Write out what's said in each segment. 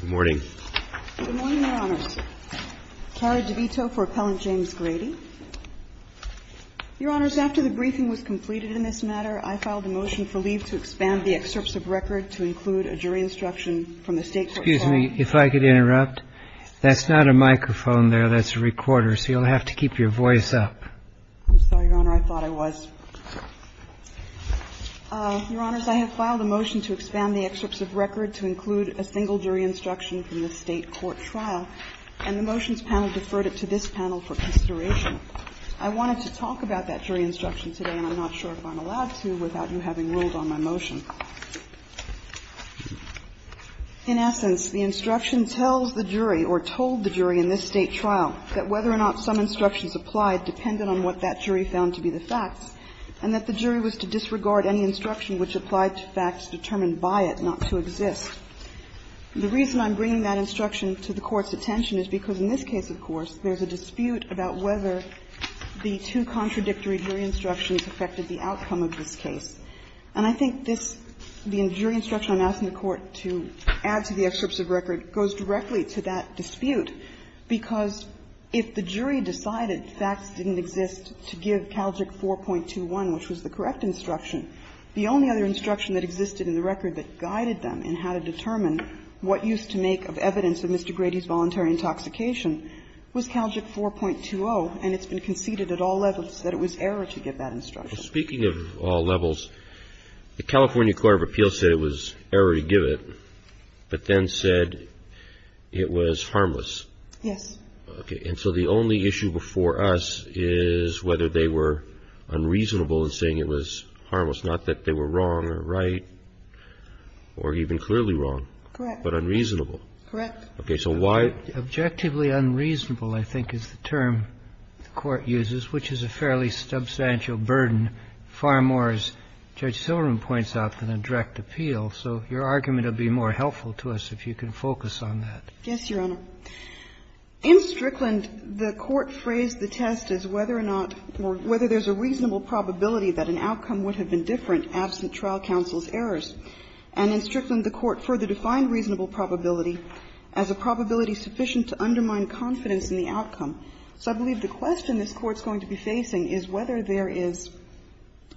Good morning, Your Honors. Carried the veto for Appellant James Grady. Your Honors, after the briefing was completed in this matter, I filed a motion for leave to expand the excerpts of record to include a jury instruction from the State Court form. Excuse me, if I could interrupt. That's not a microphone there, that's a recorder, so you'll have to keep your voice up. I'm sorry, Your Honor, I thought I was. Your Honors, I have filed a motion to expand the jury instruction from the State Court trial, and the motions panel deferred it to this panel for consideration. I wanted to talk about that jury instruction today, and I'm not sure if I'm allowed to without you having ruled on my motion. In essence, the instruction tells the jury or told the jury in this State trial that whether or not some instructions applied depended on what that jury found to be the facts, and that the jury was to disregard any instruction which applied to facts determined by it not to exist. The reason I'm bringing that instruction to the Court's attention is because in this case, of course, there's a dispute about whether the two contradictory jury instructions affected the outcome of this case. And I think this, the jury instruction I'm asking the Court to add to the excerpts of record goes directly to that dispute, because if the jury decided facts didn't exist to give Calgic 4.21, which was the correct instruction, the only other instruction that existed in the record that guided them in how to determine what used to make of evidence of Mr. Grady's voluntary intoxication was Calgic 4.20, and it's been conceded at all levels that it was error to give that instruction. Well, speaking of all levels, the California Court of Appeals said it was error to give it, but then said it was harmless. Yes. Okay. And so the only issue before us is whether they were unreasonable in saying it was right or even clearly wrong, but unreasonable. Correct. Okay. So why? Objectively unreasonable, I think, is the term the Court uses, which is a fairly substantial burden, far more, as Judge Silberman points out, than a direct appeal. So your argument would be more helpful to us if you can focus on that. Yes, Your Honor. In Strickland, the Court phrased the test as whether or not or whether there's a reasonable probability that an outcome would have been different absent trial counsel's errors. And in Strickland, the Court further defined reasonable probability as a probability sufficient to undermine confidence in the outcome. So I believe the question this Court's going to be facing is whether there is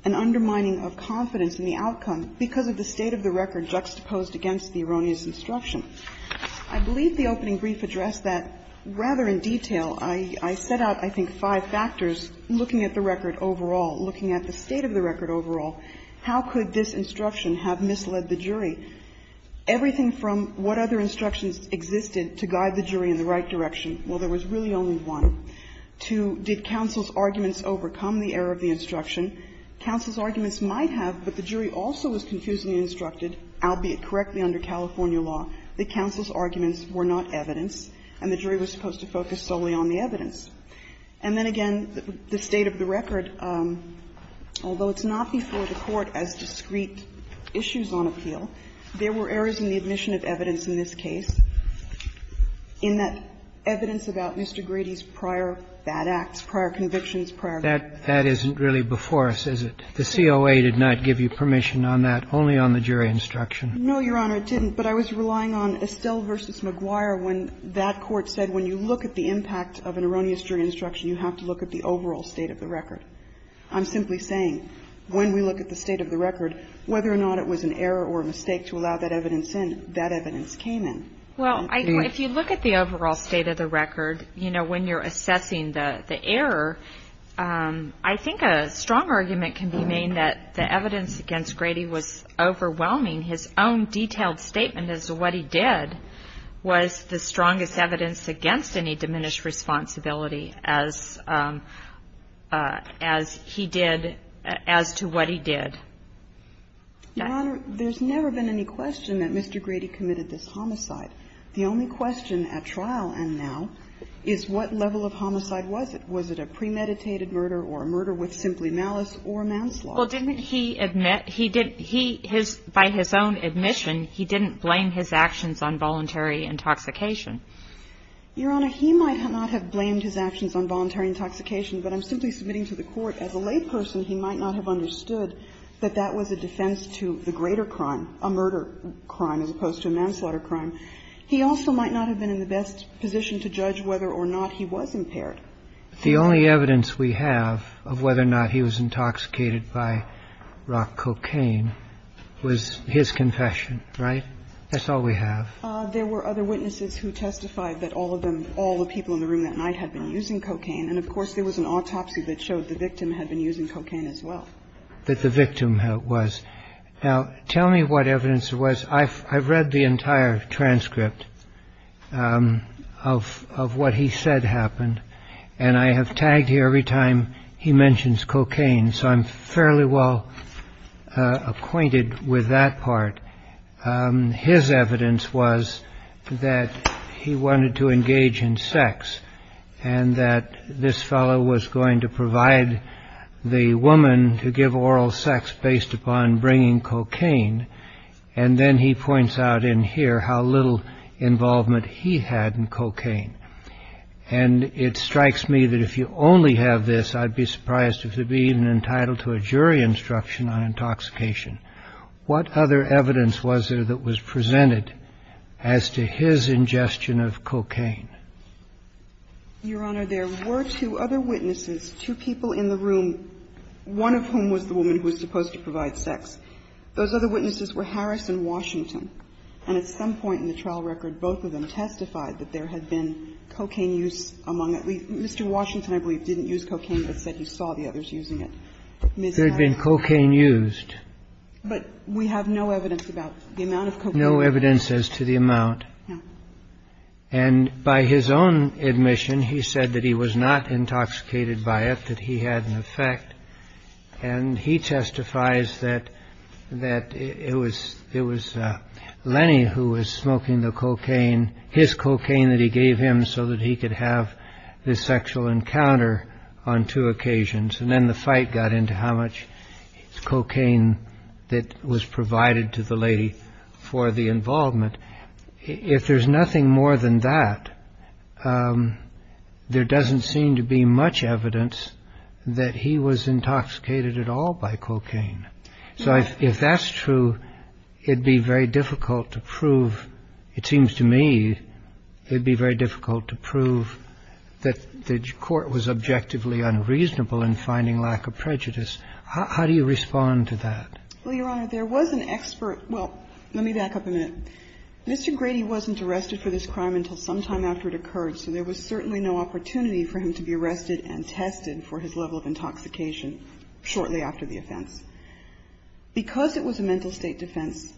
an undermining of confidence in the outcome because of the state of the record juxtaposed against the erroneous instruction. I believe the opening brief addressed that rather in detail. I set out, I think, five factors looking at the record overall, looking at the state of the record overall. How could this instruction have misled the jury? Everything from what other instructions existed to guide the jury in the right direction. Well, there was really only one. Two, did counsel's arguments overcome the error of the instruction? Counsel's arguments might have, but the jury also was confusingly instructed, albeit correctly under California law, that counsel's arguments were not evidence and the jury was supposed to focus solely on the evidence. And then again, the state of the record, although it's not before the Court as discrete issues on appeal, there were errors in the admission of evidence in this case in that evidence about Mr. Grady's prior bad acts, prior convictions, prior lawsuits. That isn't really before us, is it? The COA did not give you permission on that, only on the jury instruction. No, Your Honor, it didn't. But I was relying on Estelle v. McGuire when that Court said when you look at the jury instruction, you have to look at the overall state of the record. I'm simply saying when we look at the state of the record, whether or not it was an error or a mistake to allow that evidence in, that evidence came in. Well, if you look at the overall state of the record, you know, when you're assessing the error, I think a strong argument can be made that the evidence against Grady was overwhelming. His own detailed statement as to what he did was the strongest evidence against Grady. So it's not just any diminished responsibility as he did as to what he did. Your Honor, there's never been any question that Mr. Grady committed this homicide. The only question at trial and now is what level of homicide was it. Was it a premeditated murder or a murder with simply malice or manslaughter? Well, didn't he admit he didn't he his by his own admission, he didn't blame his actions on voluntary intoxication. Your Honor, he might not have blamed his actions on voluntary intoxication, but I'm simply submitting to the Court as a layperson, he might not have understood that that was a defense to the greater crime, a murder crime as opposed to a manslaughter crime. He also might not have been in the best position to judge whether or not he was impaired. The only evidence we have of whether or not he was intoxicated by rock cocaine was his confession, right? That's all we have. There were other witnesses who testified that all of them, all the people in the room that night had been using cocaine. And of course, there was an autopsy that showed the victim had been using cocaine as well. That the victim was. Now, tell me what evidence it was. I've read the entire transcript of of what he said happened. And I have tagged here every time he mentions cocaine. So I'm fairly well acquainted with that part. His evidence was that he wanted to engage in sex and that this fellow was going to provide the woman to give oral sex based upon bringing cocaine. And then he points out in here how little involvement he had in cocaine. And it strikes me that if you only have this, I'd be surprised if you'd be even entitled to a jury instruction on intoxication. What other evidence was there that was presented as to his ingestion of cocaine? Your Honor, there were two other witnesses, two people in the room, one of whom was the woman who was supposed to provide sex. Those other witnesses were Harris and Washington. And at some point in the trial record, both of them testified that there had been cocaine use among at least Mr. Washington, I believe, didn't use cocaine, but said he saw the others using it. There had been cocaine used. But we have no evidence about the amount of cocaine. No evidence as to the amount. And by his own admission, he said that he was not intoxicated by it, that he had an effect. And he testifies that that it was it was Lenny who was smoking the cocaine, his cocaine that he gave him so that he could have this sexual encounter on two occasions. And then the fight got into how much cocaine that was provided to the lady for the involvement. If there's nothing more than that, there doesn't seem to be much evidence that he was intoxicated at all by cocaine. So if that's true, it'd be very difficult to prove. It seems to me it'd be very difficult to prove that the court was objectively unreasonable in finding lack of prejudice. How do you respond to that? Well, Your Honor, there was an expert. Well, let me back up a minute. Mr. Grady wasn't arrested for this crime until sometime after it occurred, so there was certainly no opportunity for him to be arrested and tested for his level of intoxication shortly after the offense. Because it was a mental state defense,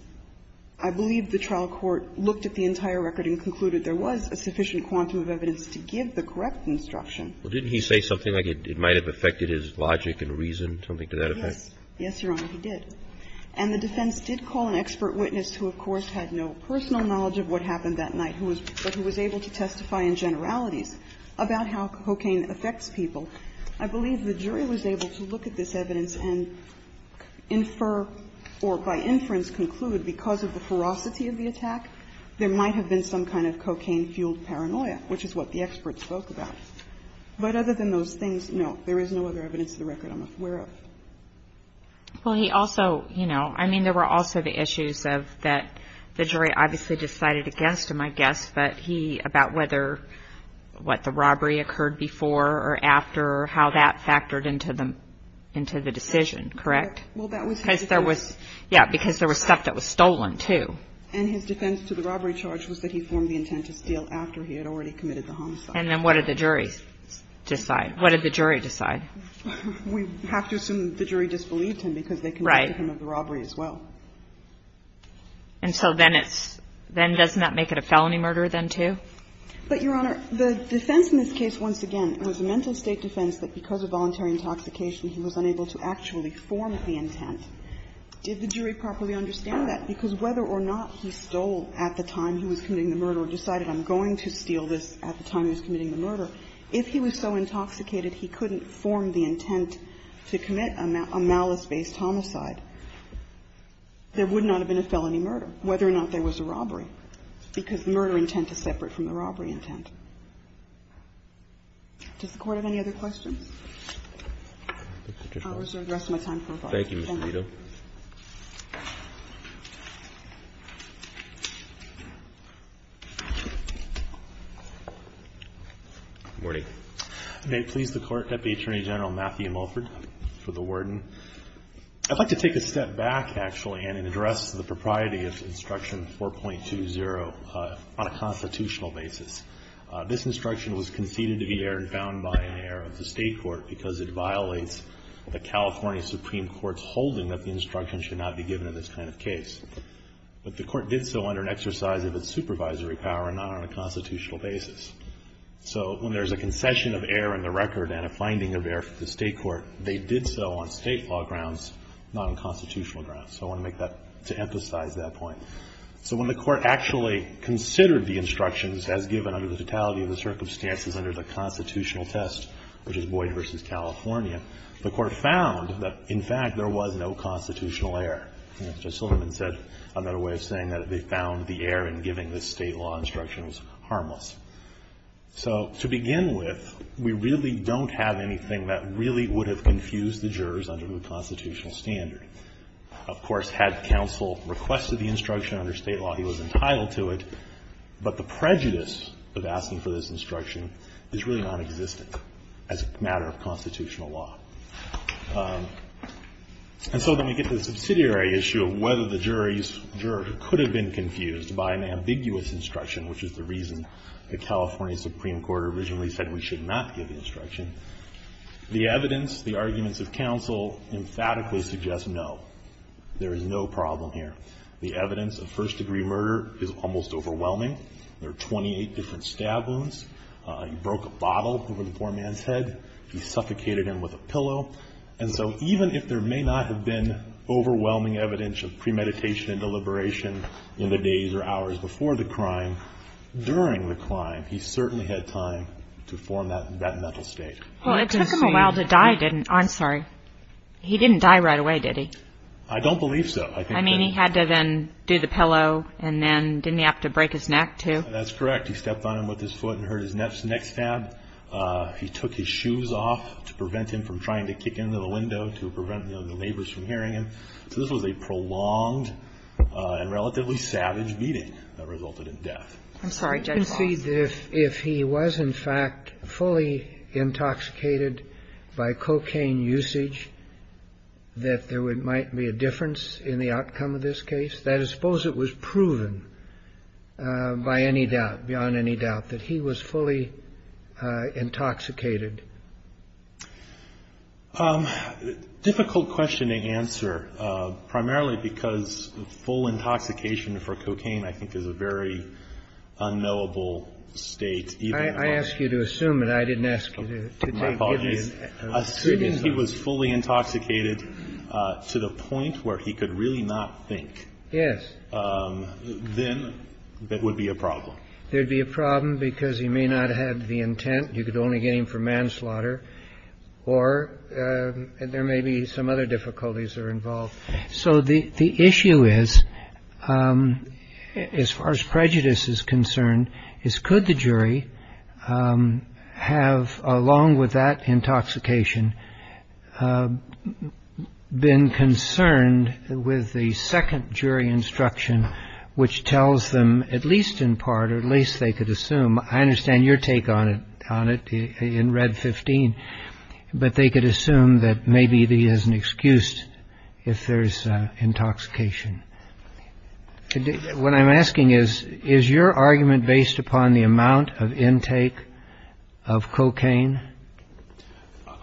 I believe the trial court looked at the entire record and concluded there was a sufficient quantum of evidence to give the correct instruction. Well, didn't he say something like it might have affected his logic and reason, something to that effect? Yes. Yes, Your Honor, he did. And the defense did call an expert witness who, of course, had no personal knowledge of what happened that night, but who was able to testify in generalities about how cocaine affects people. I believe the jury was able to look at this evidence and infer or by inference conclude because of the ferocity of the attack, there might have been some kind of cocaine-fueled paranoia, which is what the expert spoke about. But other than those things, no, there is no other evidence in the record I'm aware of. Well, he also, you know, I mean, there were also the issues of that the jury obviously decided against him, I guess, but he, about whether, what, the robbery occurred before or after, how that factored into the decision, correct? Well, that was his defense. Yeah, because there was stuff that was stolen, too. And his defense to the robbery charge was that he formed the intent to steal after he had already committed the homicide. And then what did the jury decide? What did the jury decide? We have to assume the jury disbelieved him because they convicted him of the robbery as well. Right. And so then it's – then doesn't that make it a felony murder then, too? But, Your Honor, the defense in this case, once again, was a mental state defense that because of voluntary intoxication, he was unable to actually form the intent. Did the jury properly understand that? Because whether or not he stole at the time he was committing the murder or decided I'm going to steal this at the time he was committing the murder, if he was so intoxicated he couldn't form the intent to commit a malice-based homicide, there would not have been a felony murder, whether or not there was a robbery. Because the murder intent is separate from the robbery intent. Does the Court have any other questions? I'll reserve the rest of my time for rebuttal. Thank you, Ms. Guido. Good morning. May it please the Court, Deputy Attorney General Matthew Mulford for the Warden. I'd like to take a step back, actually, and address the propriety of Instruction 4.20 on a constitutional basis. This instruction was conceded to be here and found by an heir of the state court because it violates the California Supreme Court's holding that the instruction should not be given in this kind of case. But the Court did so under an exercise of its supervisory power and not on a constitutional basis. So when there's a concession of heir in the record and a finding of heir for the state court, they did so on state law grounds, not on constitutional grounds. So I want to make that, to emphasize that point. So when the Court actually considered the instructions as given under the totality of the circumstances under the constitutional test, which is Boyd v. California, the Court found that, in fact, there was no constitutional heir. Judge Silliman said, I'm not aware of saying that they found the heir in giving this state law instruction was harmless. So to begin with, we really don't have anything that really would have confused the jurors under the constitutional standard. Of course, had counsel requested the instruction under state law, he was entitled to it, but the prejudice of asking for this instruction is really nonexistent. As a matter of constitutional law. And so then we get to the subsidiary issue of whether the jurors could have been confused by an ambiguous instruction, which is the reason the California Supreme Court originally said we should not give instruction. The evidence, the arguments of counsel, emphatically suggest no. There is no problem here. The evidence of first degree murder is almost overwhelming. There are 28 different stab wounds. He broke a bottle over the poor man's head. He suffocated him with a pillow. And so even if there may not have been overwhelming evidence of premeditation and deliberation in the days or hours before the crime, during the crime, he certainly had time to form that mental state. Well, it took him a while to die, didn't it? I'm sorry. He didn't die right away, did he? I don't believe so. I mean, he had to then do the pillow and then didn't he have to break his neck too? That's correct. He stepped on him with his foot and hurt his neck stab. He took his shoes off to prevent him from trying to kick into the window, to prevent the neighbors from hearing him. So this was a prolonged and relatively savage beating that resulted in death. I'm sorry, Judge Hall. You can see that if he was, in fact, fully intoxicated by cocaine usage, that there might be a difference in the outcome of this case? That is, suppose it was proven by any doubt, beyond any doubt, that he was fully intoxicated. Difficult question to answer, primarily because full intoxication for cocaine, I think, is a very unknowable state. I ask you to assume it. I didn't ask you to take it. Assuming he was fully intoxicated to the point where he could really not think. Yes. Then that would be a problem. There'd be a problem because he may not have the intent. You could only get him for manslaughter or there may be some other difficulties are involved. So the issue is, as far as prejudice is concerned, is could the jury have, along with that intoxication, been concerned with the second jury instruction, which tells them, at least in part, or at least they could assume, I understand your take on it, on it in Red 15, but they could assume that maybe he has an excuse if there's intoxication. What I'm asking is, is your argument based upon the amount of intake of cocaine?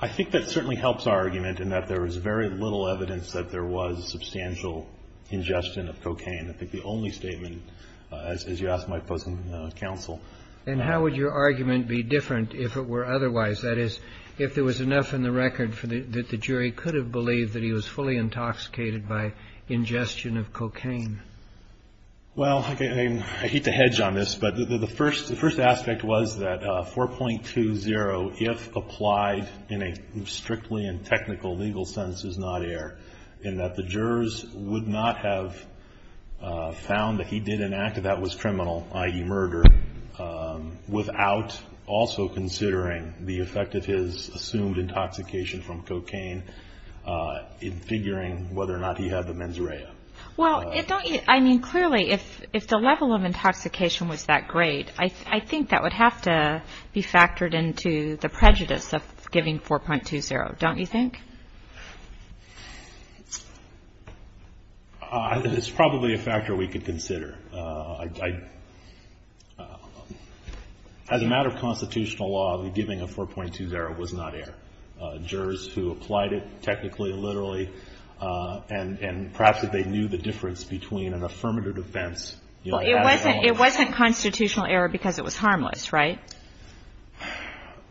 I think that certainly helps our argument in that there is very little evidence that there was substantial ingestion of cocaine. I think the only statement, as you asked my opposing counsel. And how would your argument be different if it were otherwise? That is, if there was enough in the record that the jury could have believed that he was fully intoxicated by ingestion of cocaine. Well, I hate to hedge on this, but the first aspect was that 4.20, if applied in a strictly and technical legal sense, is not air. In that the jurors would not have found that he did an act that was criminal, i.e. murder, without also considering the effect of his assumed intoxication from cocaine in figuring whether or not he had the mens rea. Well, I mean, clearly, if the level of intoxication was that great, I think that would have to be factored into the prejudice of giving 4.20, don't you think? It's probably a factor we could consider. As a matter of constitutional law, the giving of 4.20 was not air. Jurors who applied it technically, literally, and perhaps if they knew the difference between an affirmative defense, you know, It wasn't constitutional air because it was harmless, right?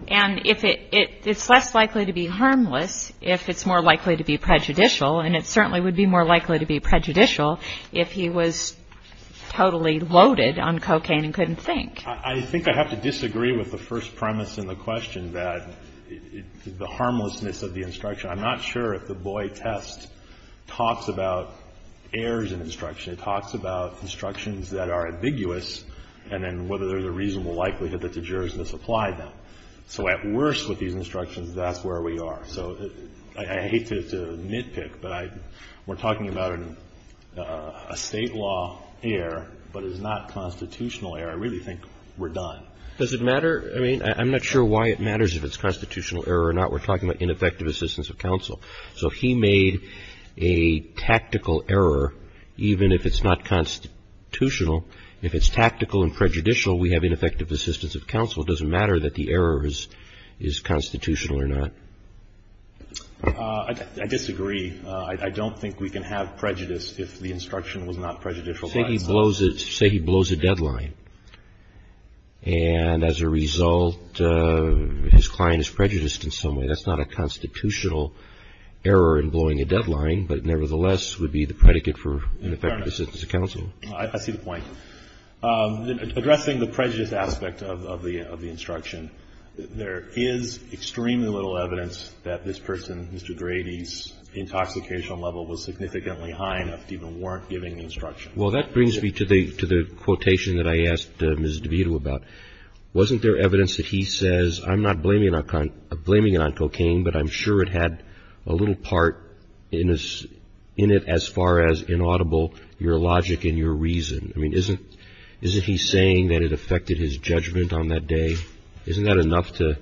And it's less likely to be harmless if it's more likely to be prejudicial. And it certainly would be more likely to be prejudicial if he was totally loaded on cocaine and couldn't think. I think I have to disagree with the first premise in the question that the harmlessness of the instruction. I'm not sure if the Boyd test talks about errors in instruction. It talks about instructions that are ambiguous and then whether there's a reasonable likelihood that the jurors misapplied them. So at worst with these instructions, that's where we are. So I hate to nitpick, but we're talking about a State law error, but it's not constitutional error. I really think we're done. Does it matter? I mean, I'm not sure why it matters if it's constitutional error or not. We're talking about ineffective assistance of counsel. So if he made a tactical error, even if it's not constitutional, if it's tactical and prejudicial, we have ineffective assistance of counsel. It doesn't matter that the error is constitutional or not. I disagree. I don't think we can have prejudice if the instruction was not prejudicial. Say he blows it, say he blows a deadline. And as a result, his client is prejudiced in some way. That's not a constitutional error in blowing a deadline, but nevertheless would be the predicate for ineffective assistance of counsel. I see the point. Addressing the prejudice aspect of the instruction, there is extremely little evidence that this person, Mr. Grady's, intoxication level was significantly high enough to even warrant giving the instruction. Well, that brings me to the quotation that I asked Ms. DeVito about. Wasn't there evidence that he says, I'm not blaming it on cocaine, but I'm sure it had a little part in it as far as inaudible, your logic and your reason? I mean, isn't he saying that it affected his judgment on that day? Isn't that enough to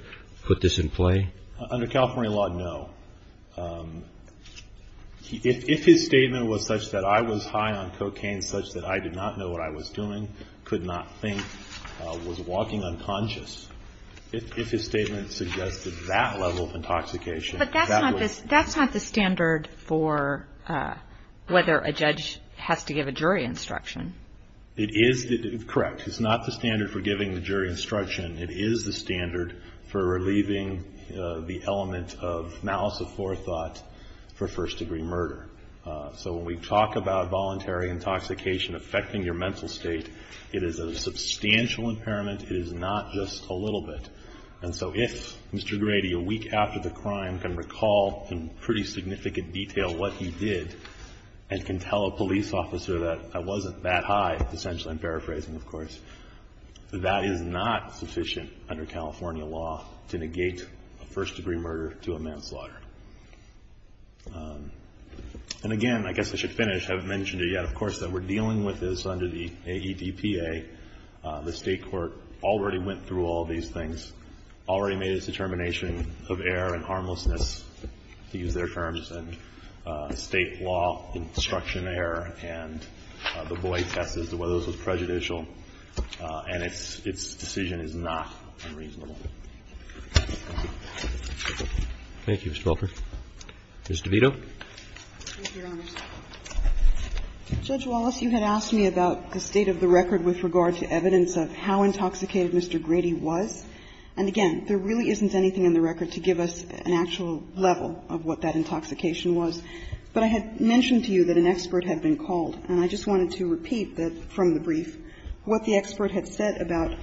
put this in play? Under California law, no. If his statement was such that I was high on cocaine such that I did not know what I was doing, could not think, was walking unconscious. If his statement suggested that level of intoxication, that would. But that's not the standard for whether a judge has to give a jury instruction. It is, correct. It's not the standard for giving the jury instruction. It is the standard for relieving the element of malice of forethought for first-degree murder. So when we talk about voluntary intoxication affecting your mental state, it is a substantial impairment. It is not just a little bit. And so if Mr. Grady, a week after the crime, can recall in pretty significant detail what he did and can tell a police officer that I wasn't that high, essentially, I'm paraphrasing, of course, that is not sufficient under California law to negate a first-degree murder to a manslaughter. And again, I guess I should finish. I haven't mentioned it yet, of course, that we're dealing with this under the AEDPA. The state court already went through all these things, already made its determination of error and harmlessness, to use their terms, and state law instruction error, and the boy tests as to whether this was prejudicial, and its decision is not unreasonable. Roberts. Thank you, Mr. Welker. Ms. DeVito. Thank you, Your Honors. Judge Wallace, you had asked me about the state of the record with regard to evidence of how intoxicated Mr. Grady was. And again, there really isn't anything in the record to give us an actual level of what that intoxication was. But I had mentioned to you that an expert had been called, and I just wanted to repeat that from the brief what the expert had said about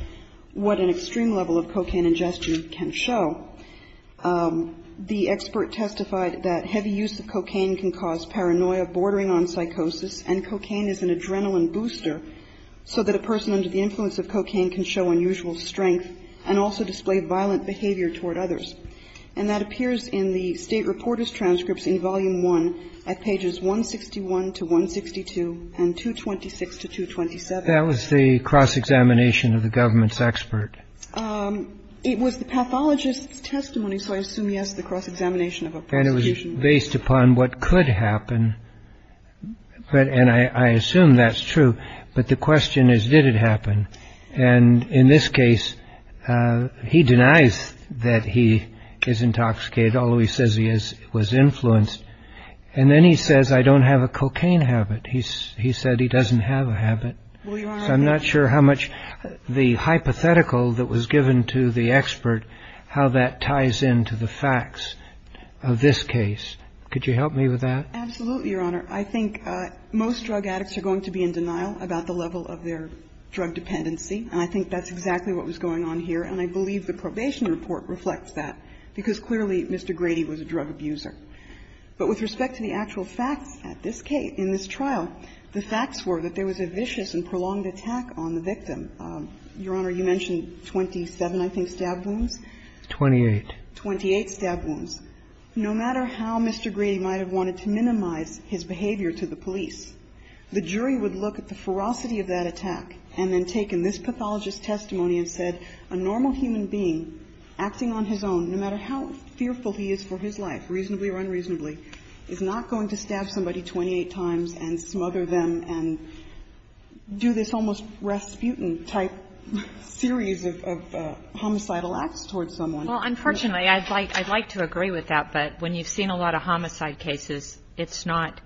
what an extreme level of cocaine ingestion can show. The expert testified that heavy use of cocaine can cause paranoia, bordering on psychosis, and cocaine is an adrenaline booster, so that a person under the influence of cocaine can show unusual strength and also display violent behavior toward others. And that appears in the State Reporters' Transcripts in Volume 1 at pages 161 to 162 and 226 to 227. That was the cross-examination of the government's expert. It was the pathologist's testimony, so I assume, yes, the cross-examination of a prostitution. And it was based upon what could happen, and I assume that's true. But the question is, did it happen? And in this case, he denies that he is intoxicated, although he says he was influenced. And then he says, I don't have a cocaine habit. He said he doesn't have a habit. I'm not sure how much the hypothetical that was given to the expert, how that ties into the facts of this case. Absolutely, Your Honor. I think most drug addicts are going to be in denial about the level of their drug dependency. And I think that's exactly what was going on here. And I believe the probation report reflects that, because clearly Mr. Grady was a drug abuser. But with respect to the actual facts at this case, in this trial, the facts were that there was a vicious and prolonged attack on the victim. Your Honor, you mentioned 27, I think, stab wounds? Twenty-eight. Twenty-eight stab wounds. No matter how Mr. Grady might have wanted to minimize his behavior to the police, the jury would look at the ferocity of that attack and then take in this pathologist's testimony and said, a normal human being acting on his own, no matter how fearful he is for his life, reasonably or unreasonably, is not going to stab somebody 28 times and smother them and do this almost Rasputin-type series of homicidal acts towards someone. Well, unfortunately, I'd like to agree with that, but when you've seen a lot of homicide cases, it's not,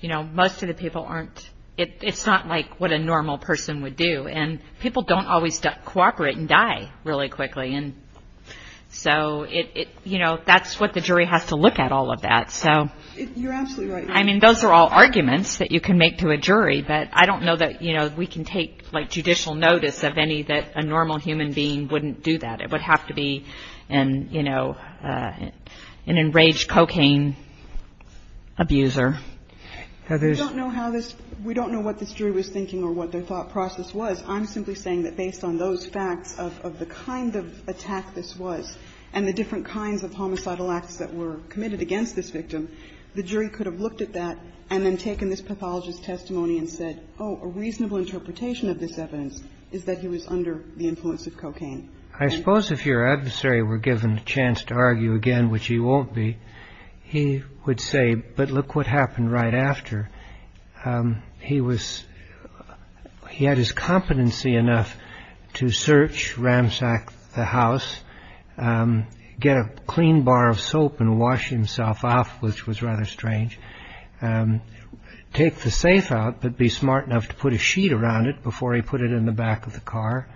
you know, most of the people aren't, it's not like what a normal person would do. And people don't always cooperate and die really quickly. And so it, you know, that's what the jury has to look at all of that. So, I mean, those are all arguments that you can make to a jury. But I don't know that, you know, we can take, like, judicial notice of any that a normal human being wouldn't do that. It would have to be an, you know, an enraged cocaine abuser. We don't know how this, we don't know what this jury was thinking or what their thought process was. I'm simply saying that based on those facts of the kind of attack this was and the different kinds of homicidal acts that were committed against this victim, the jury could have looked at that and then taken this pathologist's testimony and said, oh, a reasonable interpretation of this evidence is that he was under the influence of cocaine. I suppose if your adversary were given a chance to argue again, which he won't be, he would say, but look what happened right after. He was he had his competency enough to search, ransack the house, get a clean bar of soap and wash himself off, which was rather strange. Take the safe out, but be smart enough to put a sheet around it before he put it in the back of the car.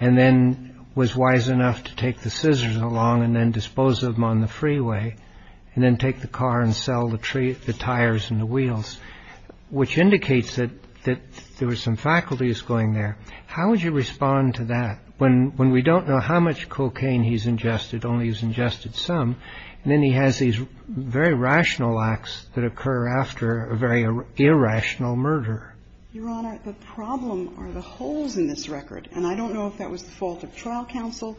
And then was wise enough to take the scissors along and then dispose of them on the freeway and then take the car and sell the tires and the wheels, which indicates that that there were some faculties going there. How would you respond to that when when we don't know how much cocaine he's ingested, only he's ingested some. And then he has these very rational acts that occur after a very irrational murder. Your Honor, the problem are the holes in this record. And I don't know if that was the fault of trial counsel.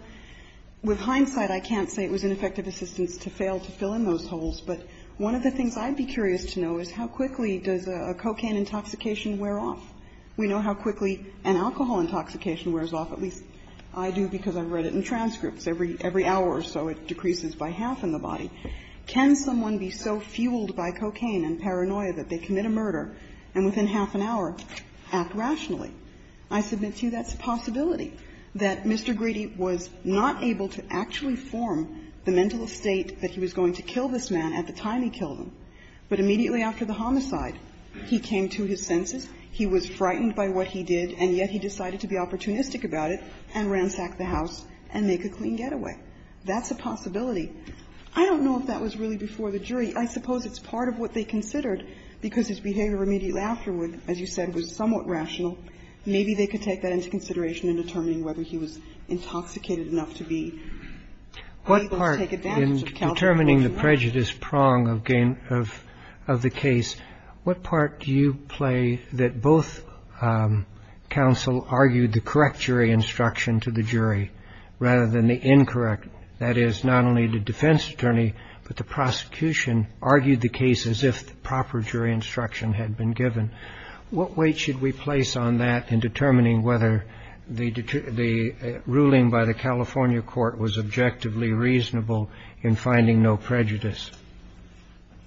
With hindsight, I can't say it was ineffective assistance to fail to fill in those holes. But one of the things I'd be curious to know is how quickly does a cocaine intoxication wear off? We know how quickly an alcohol intoxication wears off, at least I do because I've read it in transcripts. Every hour or so it decreases by half in the body. Can someone be so fueled by cocaine and paranoia that they commit a murder and within half an hour act rationally? I submit to you that's a possibility, that Mr. Grady was not able to actually form the mental state that he was going to kill this man at the time he killed him. But immediately after the homicide, he came to his senses, he was frightened by what he did, and yet he decided to be opportunistic about it and ransack the house and make a clean getaway. That's a possibility. I don't know if that was really before the jury. I suppose it's part of what they considered because his behavior immediately afterward, as you said, was somewhat rational. Maybe they could take that into consideration in determining whether he was intoxicated enough to be able to take advantage of counsel. In the case of the California court, the defense attorney argued the case as if the proper jury instruction had been given to the jury rather than the incorrect. That is, not only the defense attorney, but the prosecution argued the case as if the proper jury instruction had been given. What weight should we place on that in determining whether the ruling by the California court was objectively reasonable in finding no prejudice?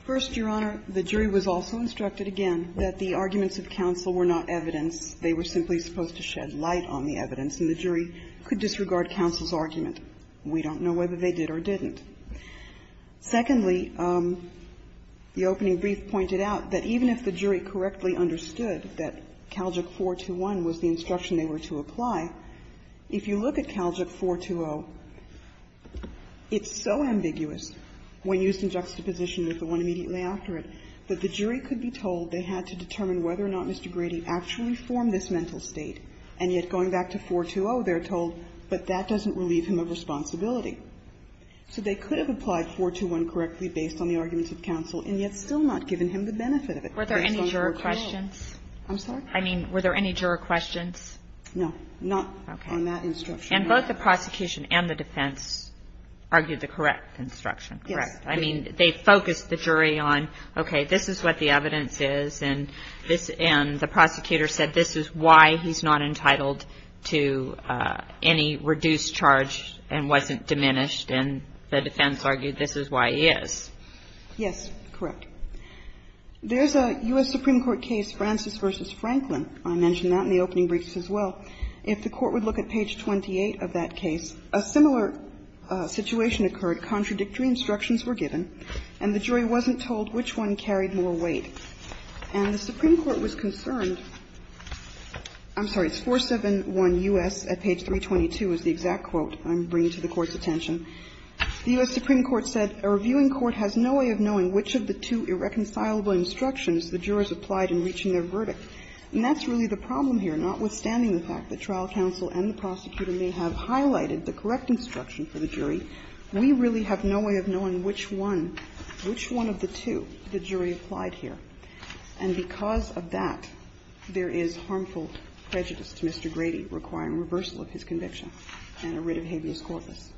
First, Your Honor, the jury was also instructed, again, that the arguments of counsel were not evidence. They were simply supposed to shed light on the evidence, and the jury could disregard counsel's argument. We don't know whether they did or didn't. Secondly, the opening brief pointed out that even if the jury correctly understood that Caljic 421 was the instruction they were to apply, if you look at Caljic 420, it's so ambiguous when used in juxtaposition with the one immediately after it, that the jury could be told they had to determine whether or not Mr. Grady actually formed this mental state, and yet going back to 420, they're told, but that doesn't relieve him of responsibility. So they could have applied 421 correctly based on the arguments of counsel, and yet still not given him the benefit of it based on 420. I'm sorry? I mean, were there any juror questions? No. Not on that instruction. And both the prosecution and the defense argued the correct instruction, correct? Yes. I mean, they focused the jury on, okay, this is what the evidence is, and this end the prosecutor said this is why he's not entitled to any reduced charge and wasn't diminished, and the defense argued this is why he is. Yes, correct. There's a U.S. Supreme Court case, Francis v. Franklin. I mentioned that in the opening briefs as well. If the Court would look at page 28 of that case, a similar situation occurred. Contradictory instructions were given, and the jury wasn't told which one carried more weight. And the Supreme Court was concerned – I'm sorry, it's 471 U.S. at page 322 is the exact quote I'm bringing to the Court's attention. The U.S. Supreme Court said a reviewing court has no way of knowing which of the two irreconcilable instructions the jurors applied in reaching their verdict. And that's really the problem here. Notwithstanding the fact that trial counsel and the prosecutor may have highlighted the correct instruction for the jury, we really have no way of knowing which one, which one of the two, the jury applied here. And because of that, there is harmful prejudice to Mr. Grady requiring reversal of his conviction and a writ of habeas corpus.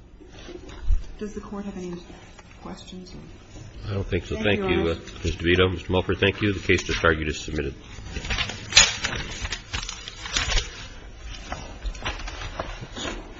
Does the Court have any questions? I don't think so. Thank you, Ms. DeVito. Mr. Mulford, thank you. The case to charge is submitted. Thank you.